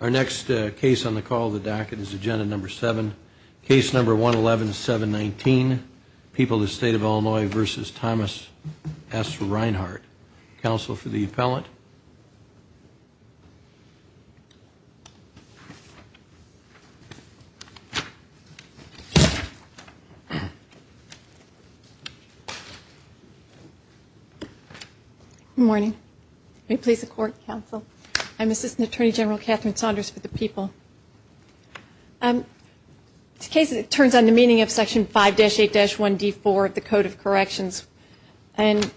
Our next case on the call the docket is agenda number seven case number one eleven seven nineteen people the state of Illinois versus Thomas S. Reinhart. Counsel for the appellant. Good morning. May it please the court, counsel. I'm Assistant Attorney General Catherine Saunders for the people. This case turns on the meaning of section five dash eight dash one D four of the code of corrections. And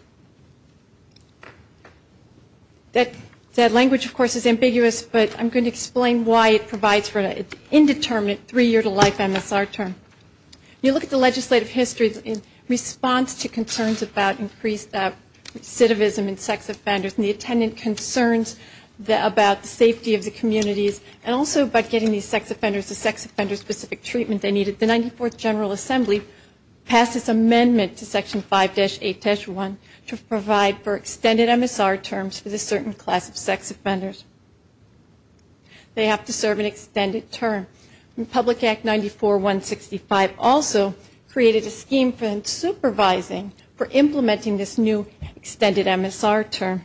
that language of course is ambiguous but I'm going to explain why it provides for an indeterminate three year to life MSR term. You look at the legislative history in response to concerns about increased recidivism and sex offenders and the attendant concerns about the safety of the communities and also about getting these sex offenders the sex offender specific treatment they needed. The 94th General Assembly passed this amendment to section five dash eight dash one to provide for extended MSR terms for the certain class of sex offenders. They have to serve an extended term. Public Act ninety four one sixty five also created a scheme for supervising for implementing this new extended MSR term.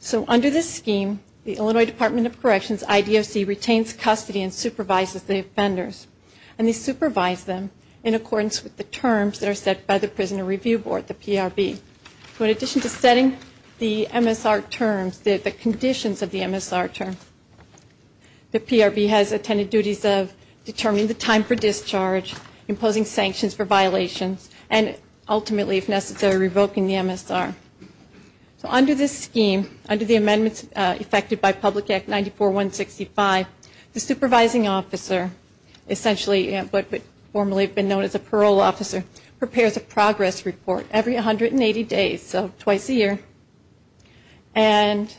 So under this scheme the Illinois Department of Corrections IDOC retains custody and supervises the offenders. And they supervise them in accordance with the terms that are set by the Prisoner Review Board, the PRB. So in addition to setting the MSR terms, the conditions of the MSR term, the PRB has attended duties of determining the time for discharge, imposing sanctions for violations and ultimately if necessary revoking the MSR. So under this scheme, under the amendments effected by the PRB, the supervising officer, essentially but formally been known as a parole officer, prepares a progress report every 180 days, so twice a year. And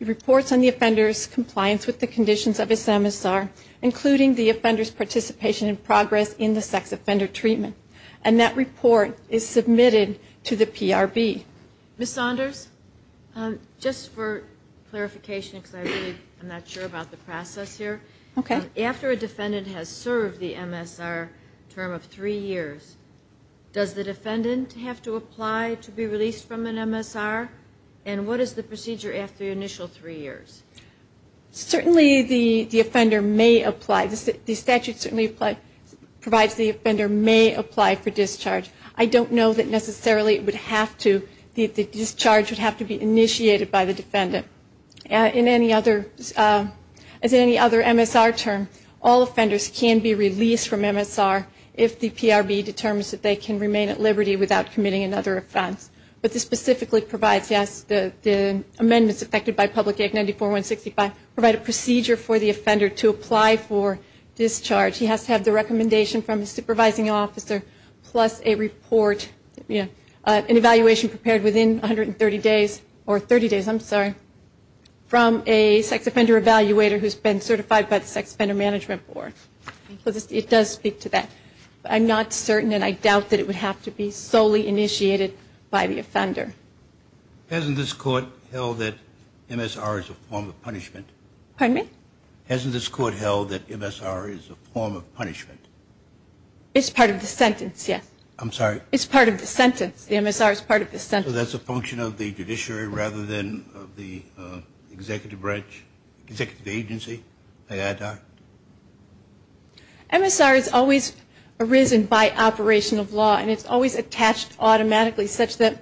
reports on the offender's compliance with the conditions of his MSR, including the offender's participation in progress in the sex offender treatment. And that report is submitted to the PRB. Ms. Saunders, just for clarification because I'm not sure about the process here. Okay. After a defendant has served the MSR term of three years, does the defendant have to apply to be released from an MSR? And what is the procedure after the initial three years? Certainly the offender may apply. The statute certainly provides the offender may apply for discharge. I don't know that necessarily it would have to. The discharge would have to be initiated by the defendant. In any other MSR term, all offenders can be released from MSR if the PRB determines that they can remain at liberty without committing another offense. But this specifically provides, yes, the amendments effected by Public Act 94-165 provide a procedure for the offender to apply for discharge. He has to have the recommendation from the supervising officer plus a report, an evaluation prepared within 130 days or 30 days, I'm sorry, from a sex offender evaluator who's been certified by the Sex Offender Management Board. It does speak to that. I'm not certain and I doubt that it would have to be solely initiated by the offender. Hasn't this court held that MSR is a form of punishment? Pardon me? Hasn't this court held that MSR is a form of punishment? It's part of the sentence, yes. I'm sorry? It's part of the sentence. The MSR is part of the sentence. So that's a function of the judiciary rather than of the executive branch, executive agency? MSR is always arisen by operation of law and it's always attached automatically such that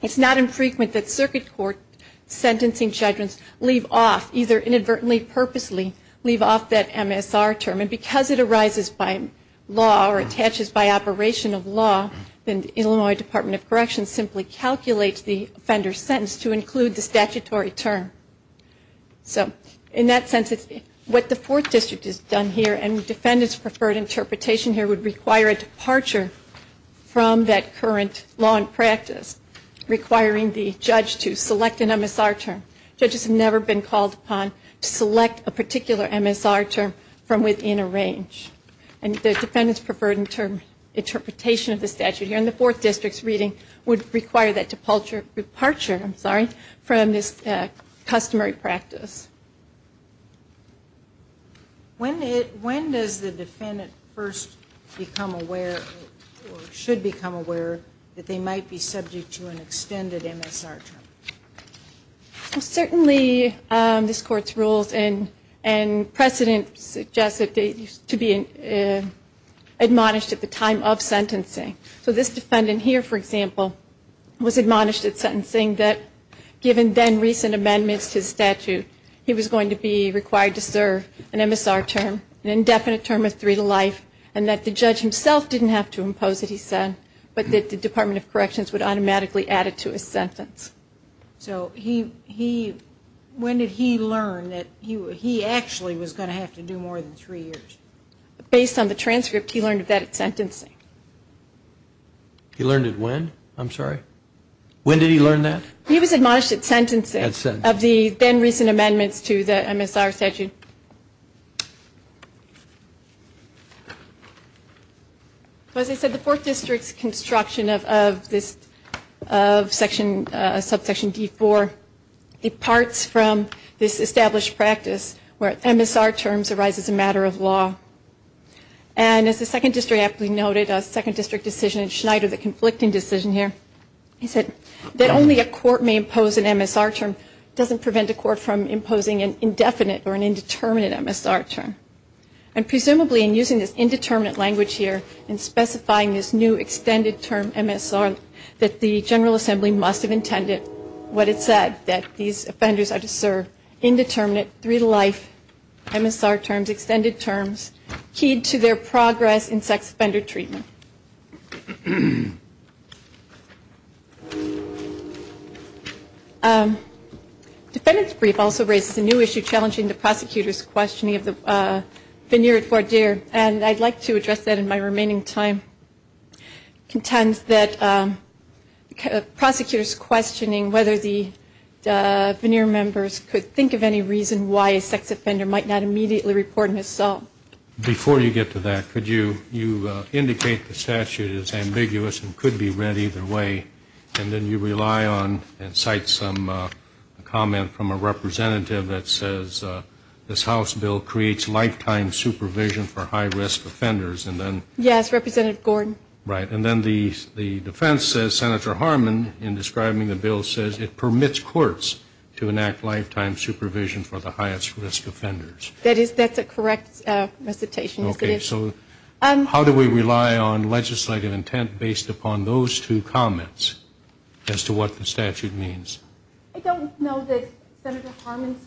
it's not infrequent that circuit court sentencing judgments leave off, either inadvertently, purposely leave off that MSR term. And because it arises by law or attaches by operation of law, then the Illinois Department of Corrections simply calculates the offender's sentence to include the statutory term. So in that sense, what the Fourth District has done here and defendants' preferred interpretation here would require a departure from that current law and practice, requiring the judge to select an MSR term. Judges have never been called upon to select a particular MSR term from within a range. And the defendants' preferred interpretation of the statute here in the Fourth District's reading would require that departure from this customary practice. When does the defendant first become aware or should become aware that they might be subject to an extended MSR term? Certainly this Court's rules and precedent suggest that they used to be admonished at the time of sentencing. So this defendant here, for example, was admonished at sentencing that given then recent amendments to the statute, he was going to be required to serve an MSR term, an indefinite term of three to life, and that the judge himself didn't have to impose it, he said, but that the Department of Corrections would automatically add it to his When did he learn that he actually was going to have to do more than three years? Based on the transcript, he learned of that at sentencing. He learned it when? I'm sorry? When did he learn that? He was admonished at sentencing of the then recent amendments to the MSR statute. As I said, the Fourth District's construction of this, of section, subsection D4, departs from this established practice where MSR terms arise as a matter of law. And as the Second District aptly noted, a Second District decision in Schneider, the conflicting decision here, he said that only a court may impose an MSR term doesn't prevent a court from imposing an indefinite or an indeterminate term. And presumably in using this indeterminate language here, in specifying this new extended term MSR, that the General Assembly must have intended what it said, that these offenders are to serve indeterminate three to life MSR terms, extended terms, keyed to their progress in sex offender treatment. Defendant's brief also raises a new issue challenging the prosecutor's questioning of the veneer at Fort Deer. And I'd like to address that in my remaining time. Contends that prosecutors questioning whether the veneer members could think of any reason why a sex offender might not immediately report an assault. Before you get to that, could you indicate the statute is ambiguous and could be read either way. And then you rely on and cite some comment from a representative that says this House bill creates lifetime supervision for high risk offenders. Yes, Representative Gordon. Right. And then the defense says Senator Harmon in describing the bill says it permits courts to enact lifetime supervision for the highest risk offenders. That's a correct recitation. Okay. So how do we rely on legislative intent based upon those two comments as to what the statute means? I don't know that Senator Harmon's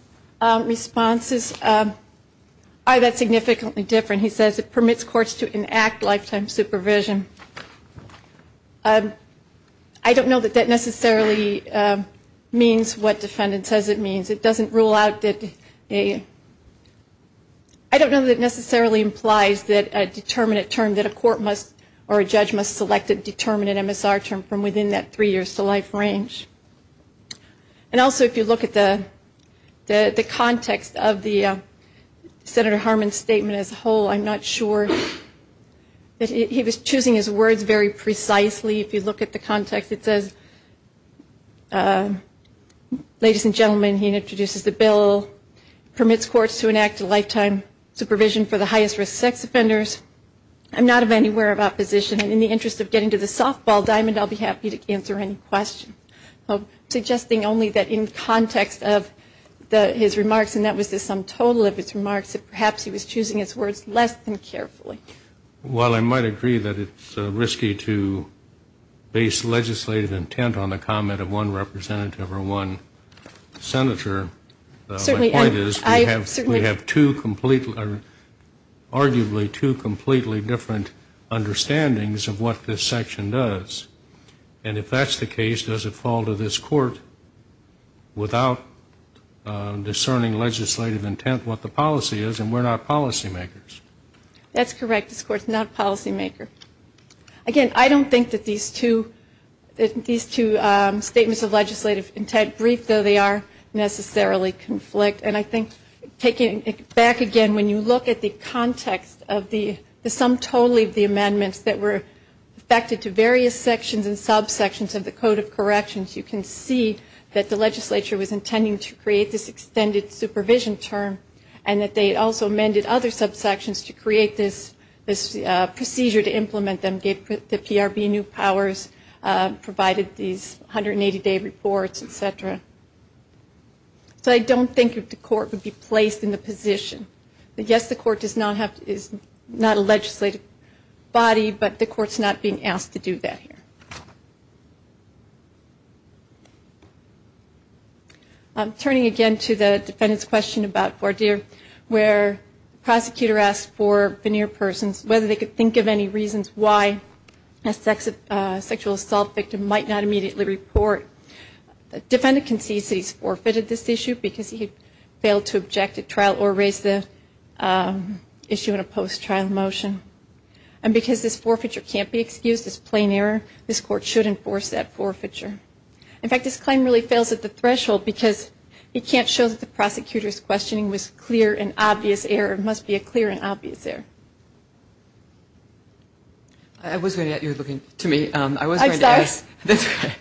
responses are that significantly different. He says it permits courts to enact lifetime supervision. I don't know that necessarily means what defendant says it means. It doesn't rule out that a I don't know that necessarily implies that a determinate term that a court must or a judge must select a determinate MSR term from within that three years to life range. And also if you look at the context of the Senator Harmon's statement as a whole, I'm not sure that he was choosing his words very precisely. If you look at the context, it says it permits courts to enact lifetime supervision for the highest risk sex offenders. Ladies and gentlemen, he introduces the bill, permits courts to enact a lifetime supervision for the highest risk sex offenders. I'm not of any where of opposition. In the interest of getting to the softball diamond, I'll be happy to answer any question. I'm suggesting only that in context of his remarks, and that was the sum total of his remarks, that perhaps he was choosing his words less than carefully. While I might agree that it's risky to base legislative intent on the comment of one representative or one Senator, my point is we have two completely, arguably two completely different understandings of what this section does. And if that's the case, does it fall to this court without discerning legislative intent what the policy is, and we're not policy makers? That's correct. This court's not a policy maker. Again, I don't think that these two statements of legislative intent brief, though they are necessarily conflict. And I think taking it back again, when you look at the context of the sum total of the amendments that were affected to various sections and subsections of the Code of Corrections, you can see that the legislature was intending to create this extended supervision for the highest provision term, and that they also amended other subsections to create this procedure to implement them, gave the PRB new powers, provided these 180-day reports, et cetera. So I don't think the court would be placed in the position that, yes, the court is not a legislative body, but the court's not being asked to do that here. I'm turning again to the defendant's question about voir dire, where the prosecutor asked for veneer persons, whether they could think of any reasons why a sexual assault victim might not immediately report. The defendant concedes that he's forfeited this issue because he failed to object at trial or raise the issue in a way that should enforce that forfeiture. In fact, this claim really fails at the threshold because it can't show that the prosecutor's questioning was clear and obvious error. It must be a clear and obvious error. I was going to ask the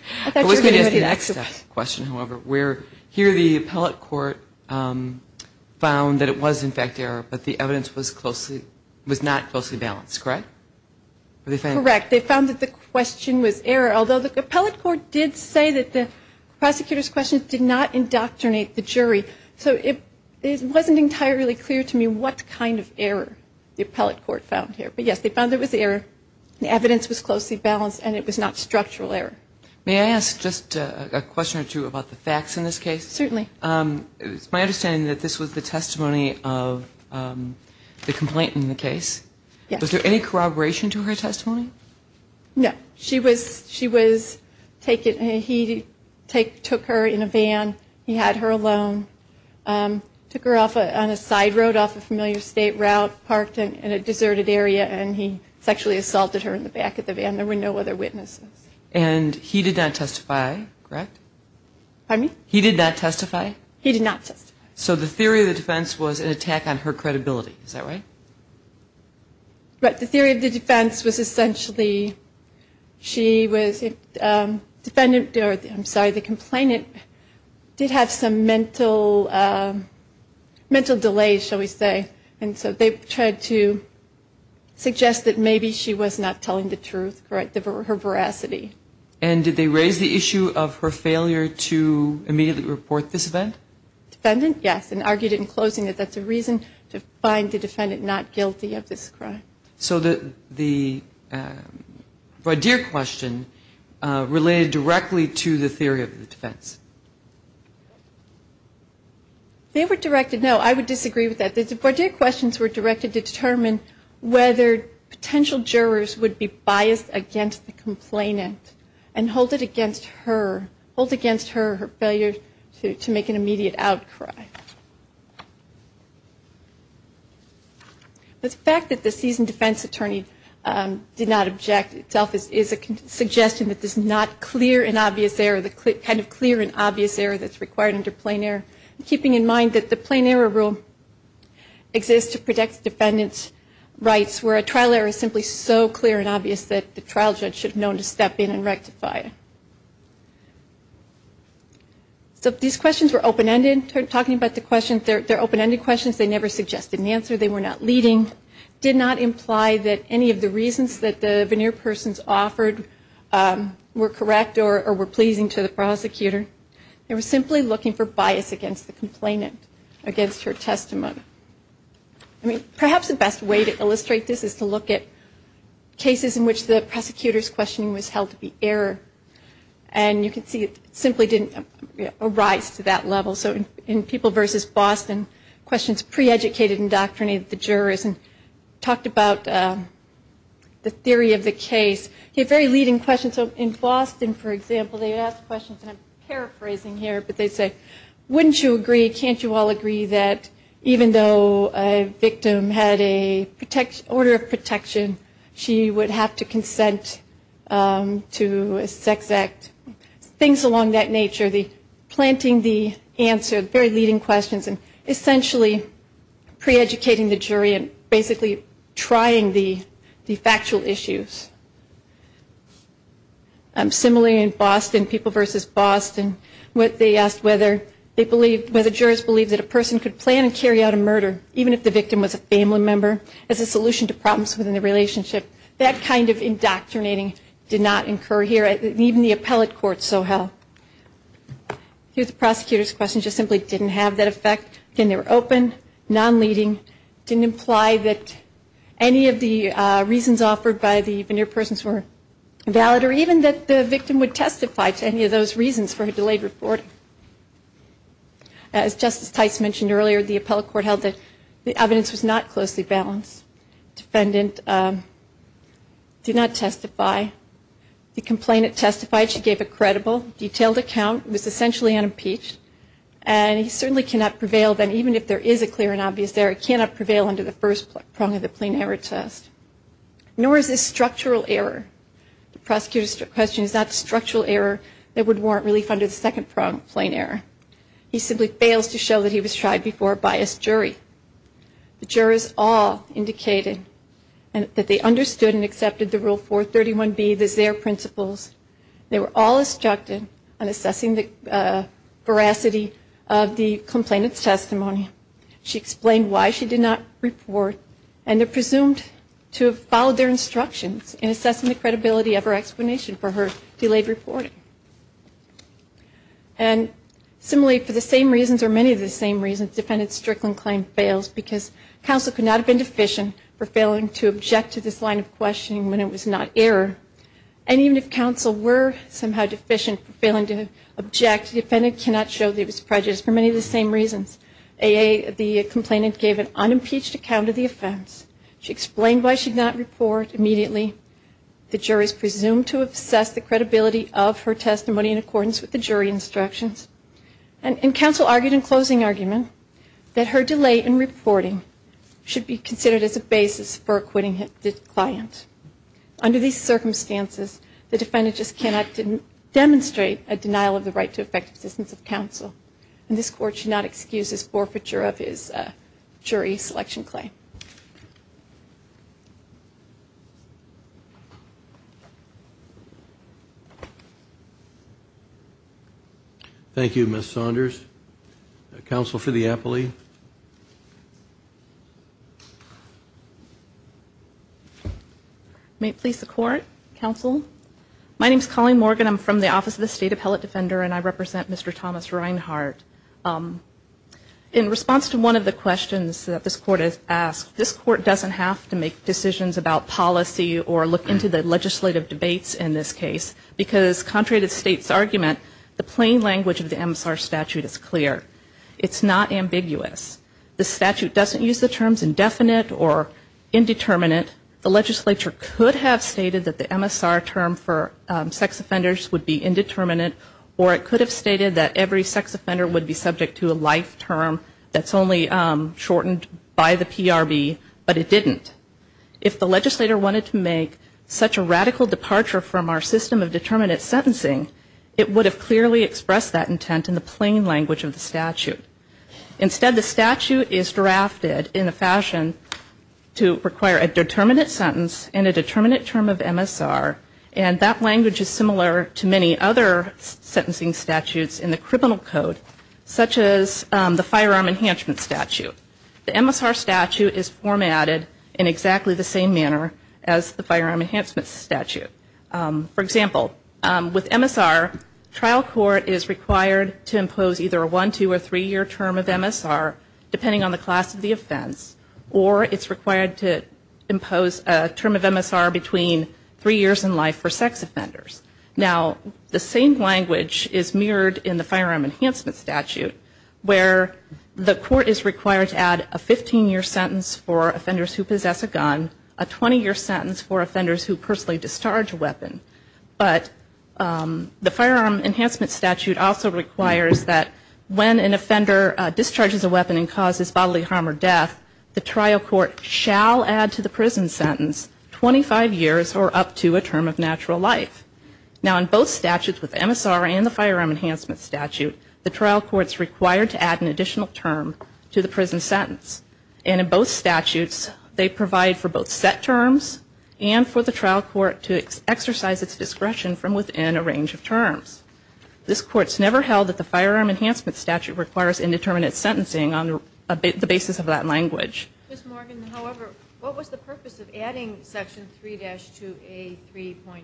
next question, however, where here the appellate court found that it was in fact error, but the evidence was not closely balanced, correct? Correct. They found that the question was error, although the appellate court did say that the prosecutor's question did not indoctrinate the jury. So it wasn't entirely clear to me what kind of error the appellate court found here. But, yes, they found it was error, the evidence was closely balanced, and it was not structural error. May I ask just a question or two about the facts in this case? Certainly. It's my understanding that this was the testimony of the complaint in the case. Was there any corroboration to her testimony? No. She was taken, he took her in a van, he had her alone, took her off on a side road off a familiar state route, parked in a deserted area, and he sexually assaulted her in the back of the van. There were no other witnesses. Did the defendant testify? He did not testify. So the theory of the defense was an attack on her credibility, is that right? Right. The theory of the defense was essentially she was a defendant, I'm sorry, the complainant did have some mental delays, shall we say, and so they tried to suggest that maybe she was not telling the truth, her veracity. And did they raise the issue of her failure to immediately report this event? Defendant, yes, and argued in closing that that's a reason to find the defendant not guilty of this crime. So the voir dire question related directly to the theory of the defense? They were directed, no, I would disagree with that. The voir dire questions were directed to determine whether potential jurors would be biased against the complainant. And hold it against her, hold against her, her failure to make an immediate outcry. The fact that the seasoned defense attorney did not object itself is a suggestion that there's not clear and obvious error, the kind of clear and obvious error that's required under plain error. Keeping in mind that the plain error rule exists to protect the defendant's rights, where a trial error is simply so clear and obvious that the trial judge should have known to step in and make an immediate outcry. So these questions were open-ended, talking about the questions, they're open-ended questions, they never suggested an answer, they were not leading, did not imply that any of the reasons that the veneer persons offered were correct or were pleasing to the prosecutor. They were simply looking for bias against the complainant, against her testimony. I mean, perhaps the best way to illustrate this is to look at cases in which the prosecutor's questioning was held to be accurate. And you can see it simply didn't arise to that level. So in People v. Boston, questions pre-educated in doctrine of the jurors, and talked about the theory of the case. A very leading question, so in Boston, for example, they would ask questions, and I'm paraphrasing here, but they'd say, wouldn't you agree, can't you all agree that even though a victim had a order of protection, she would have to consent to a trial? To a sex act, things along that nature, the planting the answer, very leading questions, and essentially pre-educating the jury and basically trying the factual issues. Similarly, in Boston, People v. Boston, they asked whether the jurors believed that a person could plan and carry out a murder, even if the victim was a family member, as a solution to problems within the relationship. That kind of indoctrinating did not occur here, even the appellate court so held. Here's the prosecutor's question, just simply didn't have that effect, again, they were open, non-leading, didn't imply that any of the reasons offered by the veneer persons were valid, or even that the victim would testify to any of those reasons for a delayed reporting. As Justice Tice mentioned earlier, the appellate court held that the evidence was not closely balanced. The defendant did not testify, the complainant testified, she gave a credible, detailed account, was essentially unimpeached, and he certainly cannot prevail, even if there is a clear and obvious error, he cannot prevail under the first prong of the plain error test. Nor is this structural error, the prosecutor's question is that structural error that would warrant relief under the second prong of plain error. He simply fails to show that he was tried before a biased jury. He also fails to show that the defendant was not implicated, that they understood and accepted the Rule 431B, the ZEHR principles. They were all instructed in assessing the veracity of the complainant's testimony. She explained why she did not report, and they're presumed to have followed their instructions in assessing the credibility of her explanation for her delayed reporting. And similarly, for the same reasons, or many of the same reasons, the defendant's Strickland claim fails, because counsel could not have been deficient for failing to object to this line of questioning when it was not error, and even if counsel were somehow deficient for failing to object, the defendant cannot show that he was prejudiced for many of the same reasons. A.A., the complainant gave an unimpeached account of the offense, she explained why she did not report immediately, the jury is presumed to have assessed the credibility of her defense. She did not report her testimony in accordance with the jury instructions, and counsel argued in closing argument that her delay in reporting should be considered as a basis for acquitting the client. Under these circumstances, the defendant just cannot demonstrate a denial of the right to effective assistance of counsel, and this Court should not excuse this forfeiture of his jury selection claim. Thank you, Ms. Saunders. Counsel for the appealee. May it please the Court, counsel. My name is Colleen Morgan, I'm from the Office of the State Appellate Defender, and I represent Mr. Thomas Reinhart. In response to one of the questions that this Court has asked, this Court doesn't have to make decisions about policy or look into the legislative debates in this case, because contrary to the State's argument, the plain language of the MSR statute is clear. It's not ambiguous. The statute doesn't use the terms indefinite or indeterminate. The legislature could have stated that the MSR term for sex offenders would be indeterminate, or it could have stated that every sex offender would be subject to a life term that's only shortened by the PRB, but it didn't. If the legislator wanted to make such a radical departure from our system of determinate sentencing, it would have clearly expressed that intent in the plain language of the statute. Instead, the statute is drafted in a fashion to require a determinate sentence and a determinate term of MSR, and that language is similar to many other sentencing statutes in the criminal code, such as the firearm enhancement statute. The MSR statute is drafted in exactly the same manner as the firearm enhancement statute. For example, with MSR, trial court is required to impose either a one, two, or three-year term of MSR, depending on the class of the offense, or it's required to impose a term of MSR between three years in life for sex offenders. Now, the same language is mirrored in the firearm enhancement statute, where the court is required to add a 15-year sentence for possession of a gun, a 20-year sentence for offenders who personally discharge a weapon. But the firearm enhancement statute also requires that when an offender discharges a weapon and causes bodily harm or death, the trial court shall add to the prison sentence 25 years or up to a term of natural life. Now, in both statutes with MSR and the firearm enhancement statute, the trial court is required to add an additional term to the prison sentence. And in both statutes, they provide for both set terms and for the trial court to exercise its discretion from within a range of terms. This court's never held that the firearm enhancement statute requires indeterminate sentencing on the basis of that language. Ms. Morgan, however, what was the purpose of adding Section 3-2A.3.5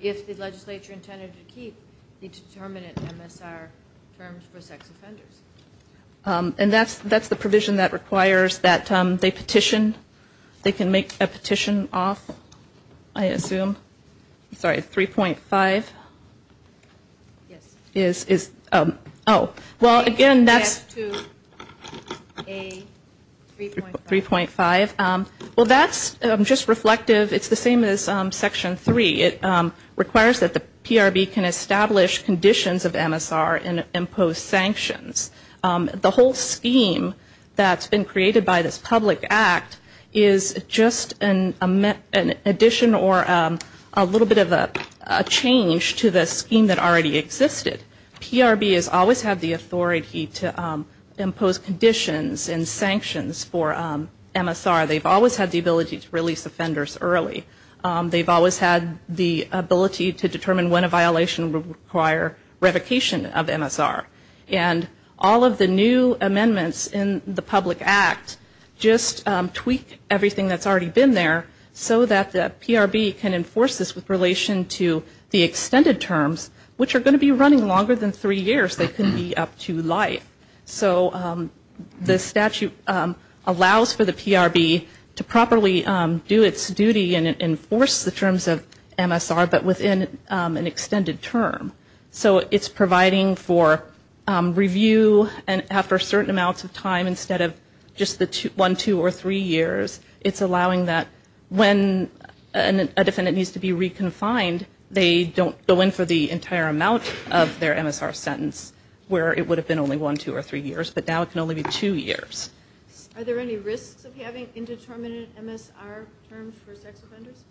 if the legislature intended to keep the determinate MSR terms for sex offenders? Ms. Morgan, that's the provision that requires that they petition. They can make a petition off, I assume. Sorry, 3.5 is, oh. Well, again, that's 3.5. Well, that's just reflective. It's the same as Section 3. It requires that the PRB can establish conditions of MSR and impose sanctions. The whole scheme that's been created by this public act is just an addition or a little bit of a change to the scheme that already existed. PRB has always had the authority to impose conditions and sanctions for MSR. They've always had the ability to release offenders early. They've always had the ability to determine when a violation would require revocation of MSR. And all of the new MSR provisions that have been introduced, all of the new amendments in the public act, just tweak everything that's already been there so that the PRB can enforce this with relation to the extended terms, which are going to be running longer than three years. They couldn't be up to life. So the statute allows for the PRB to properly do its duty and enforce the terms of MSR, but within an extended term. So it's providing for review and after-service services, but within a certain amount of time instead of just one, two, or three years. It's allowing that when a defendant needs to be re-confined, they don't go in for the entire amount of their MSR sentence, where it would have been only one, two, or three years. But now it can only be two years. Are there any risks of having indeterminate MSR terms for sex offenders?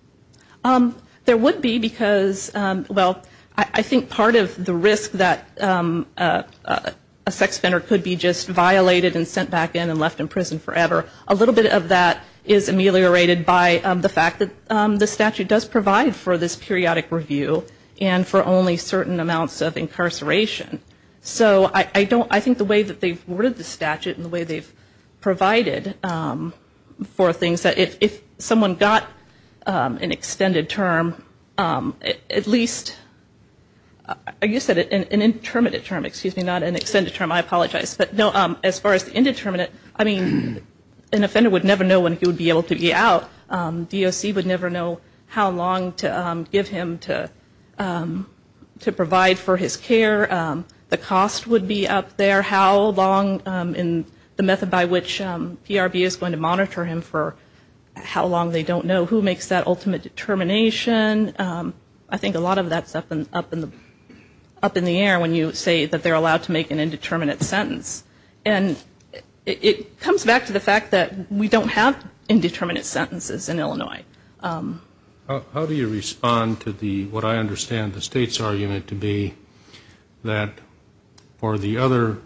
There would be because, well, I think part of the risk that a sex offender is violated and sent back in and left in prison forever, a little bit of that is ameliorated by the fact that the statute does provide for this periodic review and for only certain amounts of incarceration. So I don't, I think the way that they've worded the statute and the way they've provided for things that if someone got an extended term, at least, like you said, an indeterminate term, excuse me, not an extended term, I apologize. But no, as far as indeterminate, I mean, an offender would never know when he would be able to be out. DOC would never know how long to give him to provide for his care. The cost would be up there, how long, and the method by which PRB is going to monitor him for how long they don't know who makes that ultimate determination. I think a lot of that's up in the air when you say that they're allowed to make an indeterminate sentence. And it comes back to the fact that we don't have indeterminate sentences in Illinois. How do you respond to the, what I understand the state's argument to be, that for the other,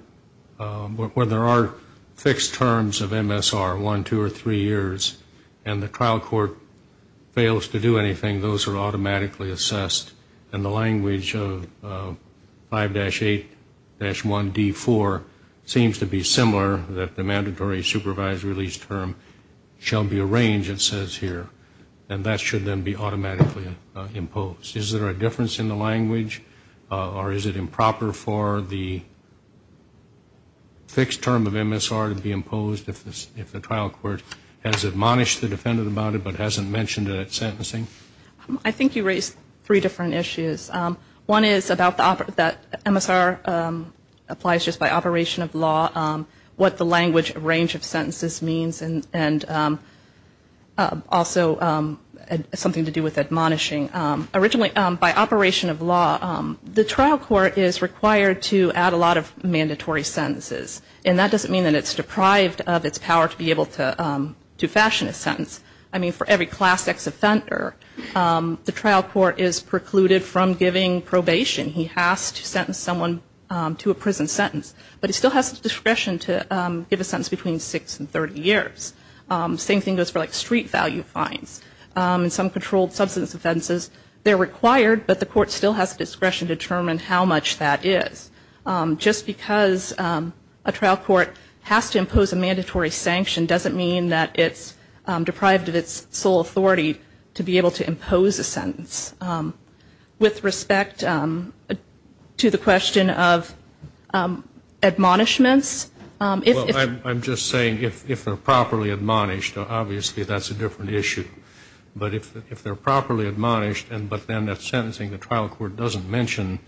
where there are fixed terms of MSR, one, two, or three years, and the trial court fails to do anything, those are automatically assessed. And I'm not sure that that's the case. And the language of 5-8-1D4 seems to be similar, that the mandatory supervised release term shall be arranged, it says here. And that should then be automatically imposed. Is there a difference in the language? Or is it improper for the fixed term of MSR to be imposed if the trial court has admonished the defendant about it but hasn't mentioned it at sentencing? I think you raised three different issues. One is about the, that MSR applies just by operation of law, what the language range of sentences means, and also something to do with admonishing. Originally, by operation of law, the trial court is required to add a lot of mandatory sentences. And that doesn't mean that it's deprived of its power to be able to fashion a sentence. I mean, for every class X offender, the trial court is precluded from giving probation. He has to sentence someone to a prison sentence. But he still has the discretion to give a sentence between six and 30 years. Same thing goes for like street value fines. And some controlled substance offenses, they're required, but the court still has discretion to determine how much that is. Just because a trial court has to impose a sentence, with respect to the question of admonishments, if they're properly admonished, obviously that's a different issue. But if they're properly admonished, but then at sentencing the trial court doesn't mention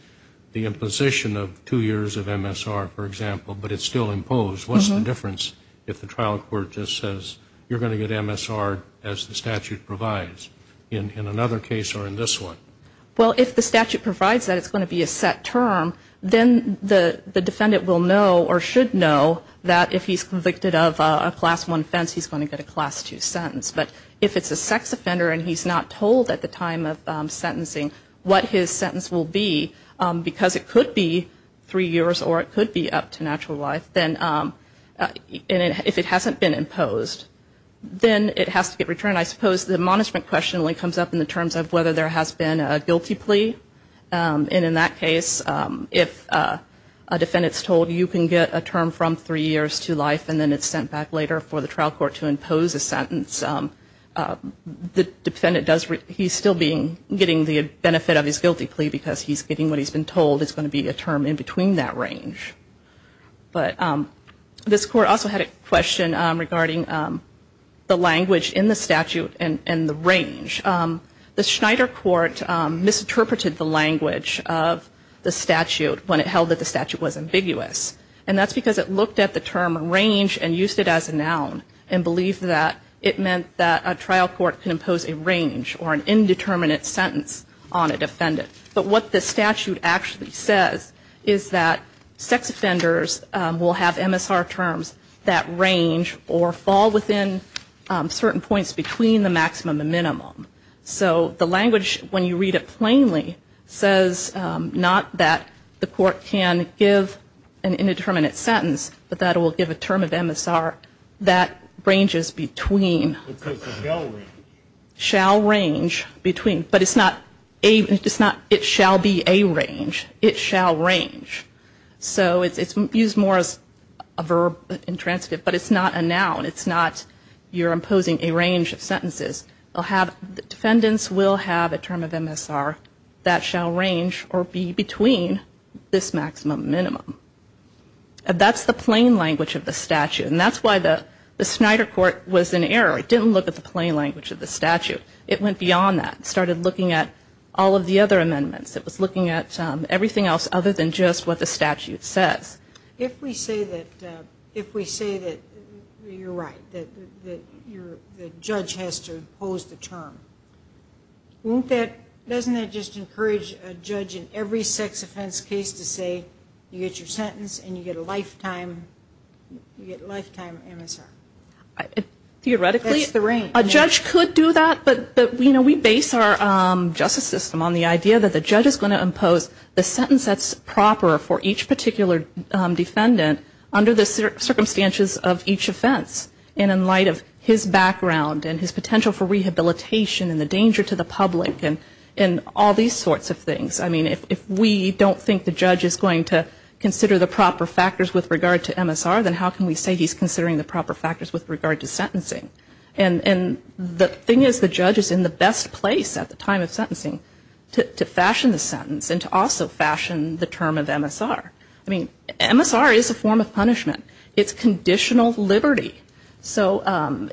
the imposition of two years of MSR, for example, but it's still imposed, what's the difference if the trial court just says you're going to get MSR as the statute provides? In another case or in this one? Well, if the statute provides that it's going to be a set term, then the defendant will know or should know that if he's convicted of a class I offense, he's going to get a class II sentence. But if it's a sex offender and he's not told at the time of sentencing what his sentence will be, because it could be three years or it could be up to natural life, then if it hasn't been imposed, then it has to get questioned when it comes up in the terms of whether there has been a guilty plea. And in that case, if a defendant's told you can get a term from three years to life and then it's sent back later for the trial court to impose a sentence, the defendant does, he's still getting the benefit of his guilty plea because he's getting what he's been told is going to be a term in between that range. But this court also had a question regarding the language in the statute and the range. The Schneider court misinterpreted the language of the statute when it held that the statute was ambiguous. And that's because it looked at the term range and used it as a noun and believed that it meant that a trial court can impose a range or an indeterminate sentence on a defendant. But what the statute actually says is that range or fall within certain points between the maximum and minimum. So the language, when you read it plainly, says not that the court can give an indeterminate sentence, but that it will give a term of MSR that ranges between. Shall range between. But it's not a, it's not it shall be a range. It shall range. So it's used more as a verb, an adjective, intransitive, but it's not a noun. It's not you're imposing a range of sentences. Defendants will have a term of MSR that shall range or be between this maximum and minimum. That's the plain language of the statute. And that's why the Schneider court was in error. It didn't look at the plain language of the statute. It went beyond that. It started looking at all of the other amendments. It was looking at everything else other than just what the statute says. If we say that, if we say that you're right, that the judge has to impose the term, won't that, doesn't that just encourage a judge in every sex offense case to say you get your sentence and you get a lifetime, you get lifetime MSR? Theoretically. That's the range. A judge could do that, but we base our justice system on the idea that the judge is going to impose the sentence that's proper for each particular defendant under the circumstances of each offense. And in light of his background and his potential for rehabilitation and the danger to the public and all these sorts of things. I mean, if we don't think the judge is going to consider the proper factors with regard to MSR, then how can we say he's considering the proper factors with regard to sentencing? And the thing is the judge is in the best place at the time of sentencing to fashion the sentence and to also fashion the term of MSR. I mean, MSR is a form of punishment. It's conditional liberty. So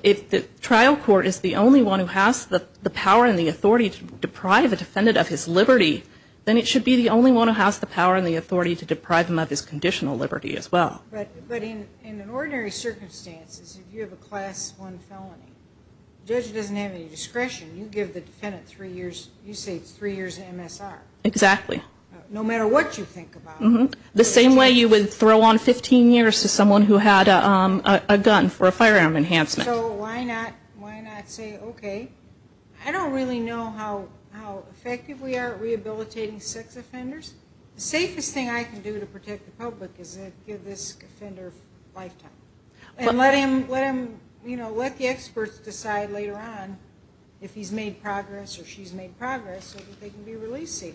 if the trial court is the only one who has the power and the authority to deprive a defendant of his liberty, then it should be the only one who has the power and the authority to deprive him of his liberty. But in an ordinary circumstance, if you have a class one felony, the judge doesn't have any discretion. You give the defendant three years, you say it's three years of MSR. Exactly. No matter what you think about it. The same way you would throw on 15 years to someone who had a gun for a firearm enhancement. And let the experts decide later on if he's made progress or she's made progress so that they can be released safe.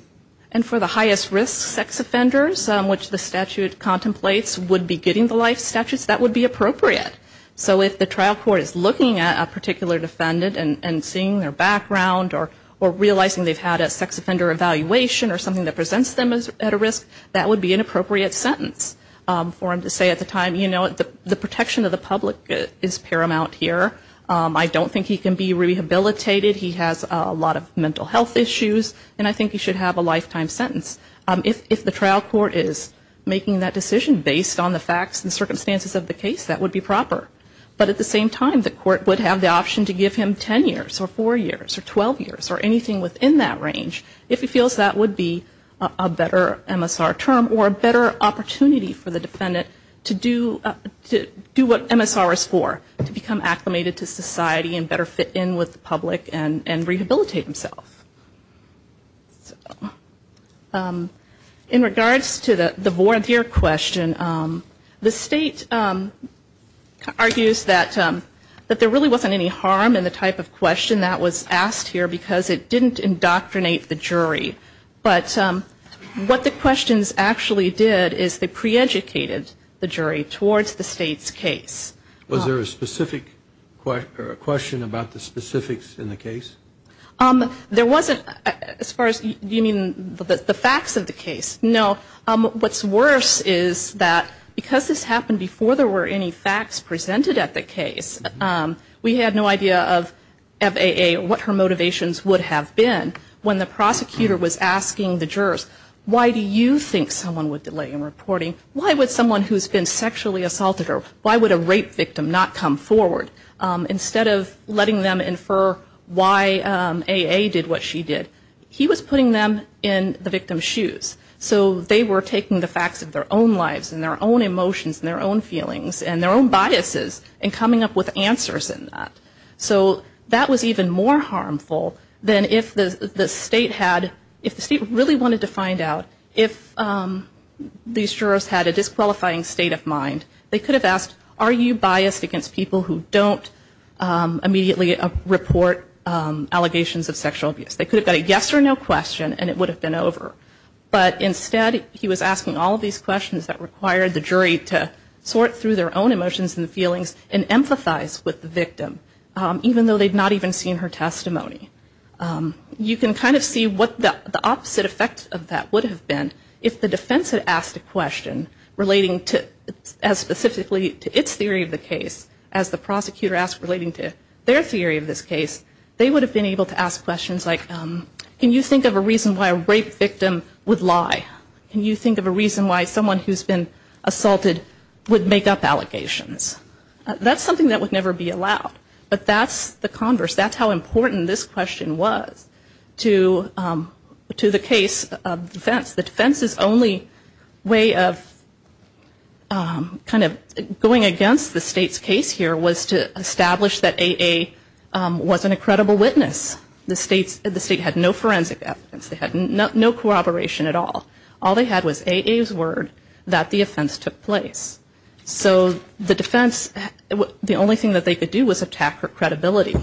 And for the highest risk sex offenders, which the statute contemplates would be getting the life statutes, that would be appropriate. So if the trial court is looking at a particular defendant and seeing their background or realizing they've had a sex offender evaluation or something that presents them at a risk, that would be an appropriate sentence for them to say at the time you know, the protection of the public is paramount here. I don't think he can be rehabilitated. He has a lot of mental health issues. And I think he should have a lifetime sentence. If the trial court is making that decision based on the facts and circumstances of the case, that would be proper. But at the same time, the court would have the option to give him 10 years or 4 years or 12 years or anything within that range. If he feels that would be a better MSR term or a better opportunity for the defendant to do something else. To do what MSR is for. To become acclimated to society and better fit in with the public and rehabilitate himself. In regards to the voir dire question, the state argues that there really wasn't any harm in the type of question that was asked here because it didn't indoctrinate the jury. But what the questions actually did is they pre-educated the jury to do what they thought was appropriate towards the state's case. Was there a specific question about the specifics in the case? There wasn't as far as you mean the facts of the case. No. What's worse is that because this happened before there were any facts presented at the case, we had no idea of FAA, what her motivations would have been when the prosecutor was asking the jurors, why do you think someone would delay in reporting? Why would someone who's been sexually assaulted or why would a rape victim not come forward? Instead of letting them infer why AA did what she did, he was putting them in the victim's shoes. So they were taking the facts of their own lives and their own emotions and their own feelings and their own biases and coming up with answers in that. So that was even more harmful than if the state had, if the state really wanted to find out what the facts of the case were. They could have asked, are you biased against people who don't immediately report allegations of sexual abuse? They could have got a yes or no question and it would have been over. But instead he was asking all of these questions that required the jury to sort through their own emotions and feelings and empathize with the victim, even though they'd not even seen her testimony. You can kind of see what the opposite effect of that would have been if the defense had asked a question relating to, as specifically to its theory of the case, as the prosecutor asked relating to their theory of this case. They would have been able to ask questions like, can you think of a reason why a rape victim would lie? Can you think of a reason why someone who's been assaulted would make up allegations? That's something that would never be allowed. But that's the converse. That's how important this question was to the case of defense. The defense's only way of kind of going against the state's case here was to establish that AA wasn't a credible witness. The state had no forensic evidence. They had no corroboration at all. All they had was AA's word that the offense took place. So the defense, the only thing that they could do was attack her credibility.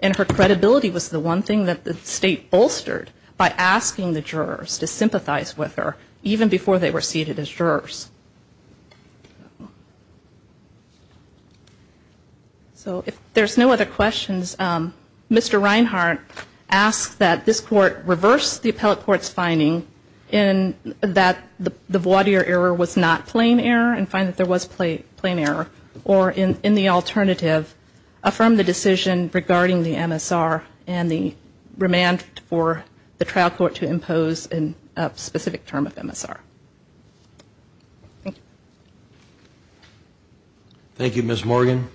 And her credibility was the one thing that the state bolstered by asking the jurors to sympathize with her, even before they were seated as jurors. So if there's no other questions, Mr. Reinhart asked that this court reverse the appellate court's finding in that the plaintiff, if there was plain error, or in the alternative, affirm the decision regarding the MSR and the remand for the trial court to impose a specific term of MSR. Thank you, Ms. Morgan.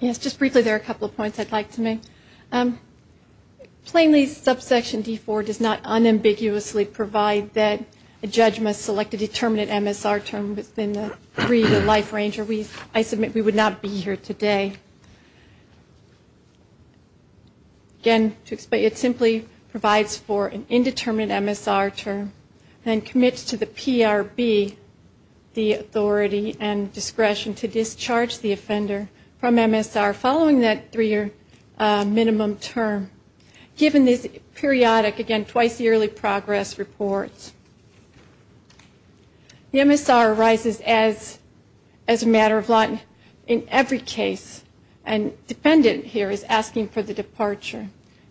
Yes, just briefly, there are a couple of points I'd like to make. Plainly, subsection D4 does not unambiguously provide that a judge must select a determinate MSR term within the three-year life range, or I submit we would not be here today. Again, it simply provides for an indeterminate MSR term and commits to the PRB the authority and discretion to discharge the offender from MSR following that three-year minimum term, given this periodic, again, twice-yearly progress report. The MSR arises as a matter of law in every case, and defendant here is asking for the departure.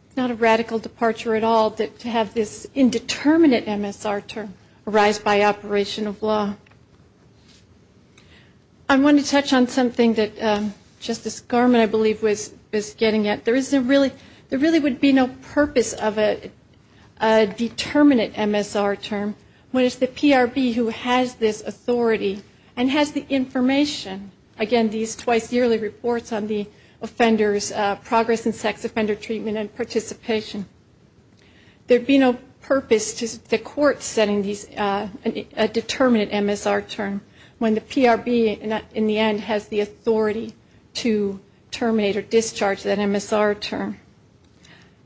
It's not a radical departure at all to have this indeterminate MSR term arise by operation of law. I wanted to touch on something that Justice Garmon, I believe, was getting at. There really would be no purpose of a determinate MSR term when it's the PRB who has this authority and has the information, again, these twice-yearly reports on the offender's progress in sex offender treatment and participation. There'd be no purpose to the court setting a determinate MSR term. When the PRB, in the end, has the authority to terminate or discharge that MSR term.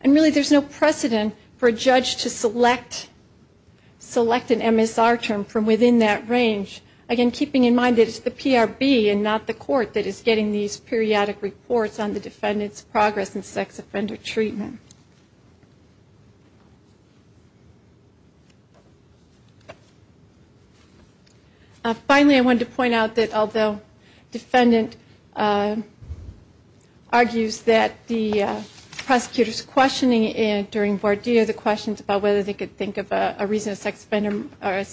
And really there's no precedent for a judge to select an MSR term from within that range. Again, keeping in mind that it's the PRB and not the court that is getting these periodic reports on the defendant's progress in sex offender treatment. Finally, I wanted to point out that although defendant argues that the prosecutor's questioning during voir dire, the questions about whether they could think of a reason a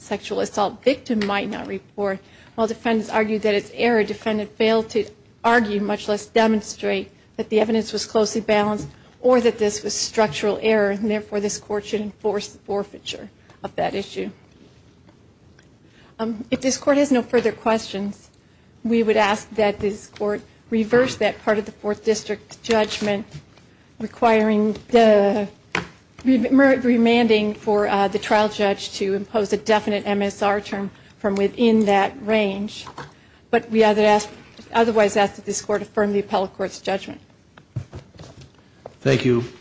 sexual assault victim might not report, while defendants argued that it's error, defendant failed to argue, much less demonstrate, that the evidence was closely balanced or that this was structural error, and therefore this court should enforce the forfeiture of that issue. If this court has no further questions, we would ask that this court reverse that part of the fourth district judgment, requiring the, remanding for the trial judge to impose a definite MSR term from within that range. But we otherwise ask that this court affirm the appellate court's judgment. Thank you. Thank you.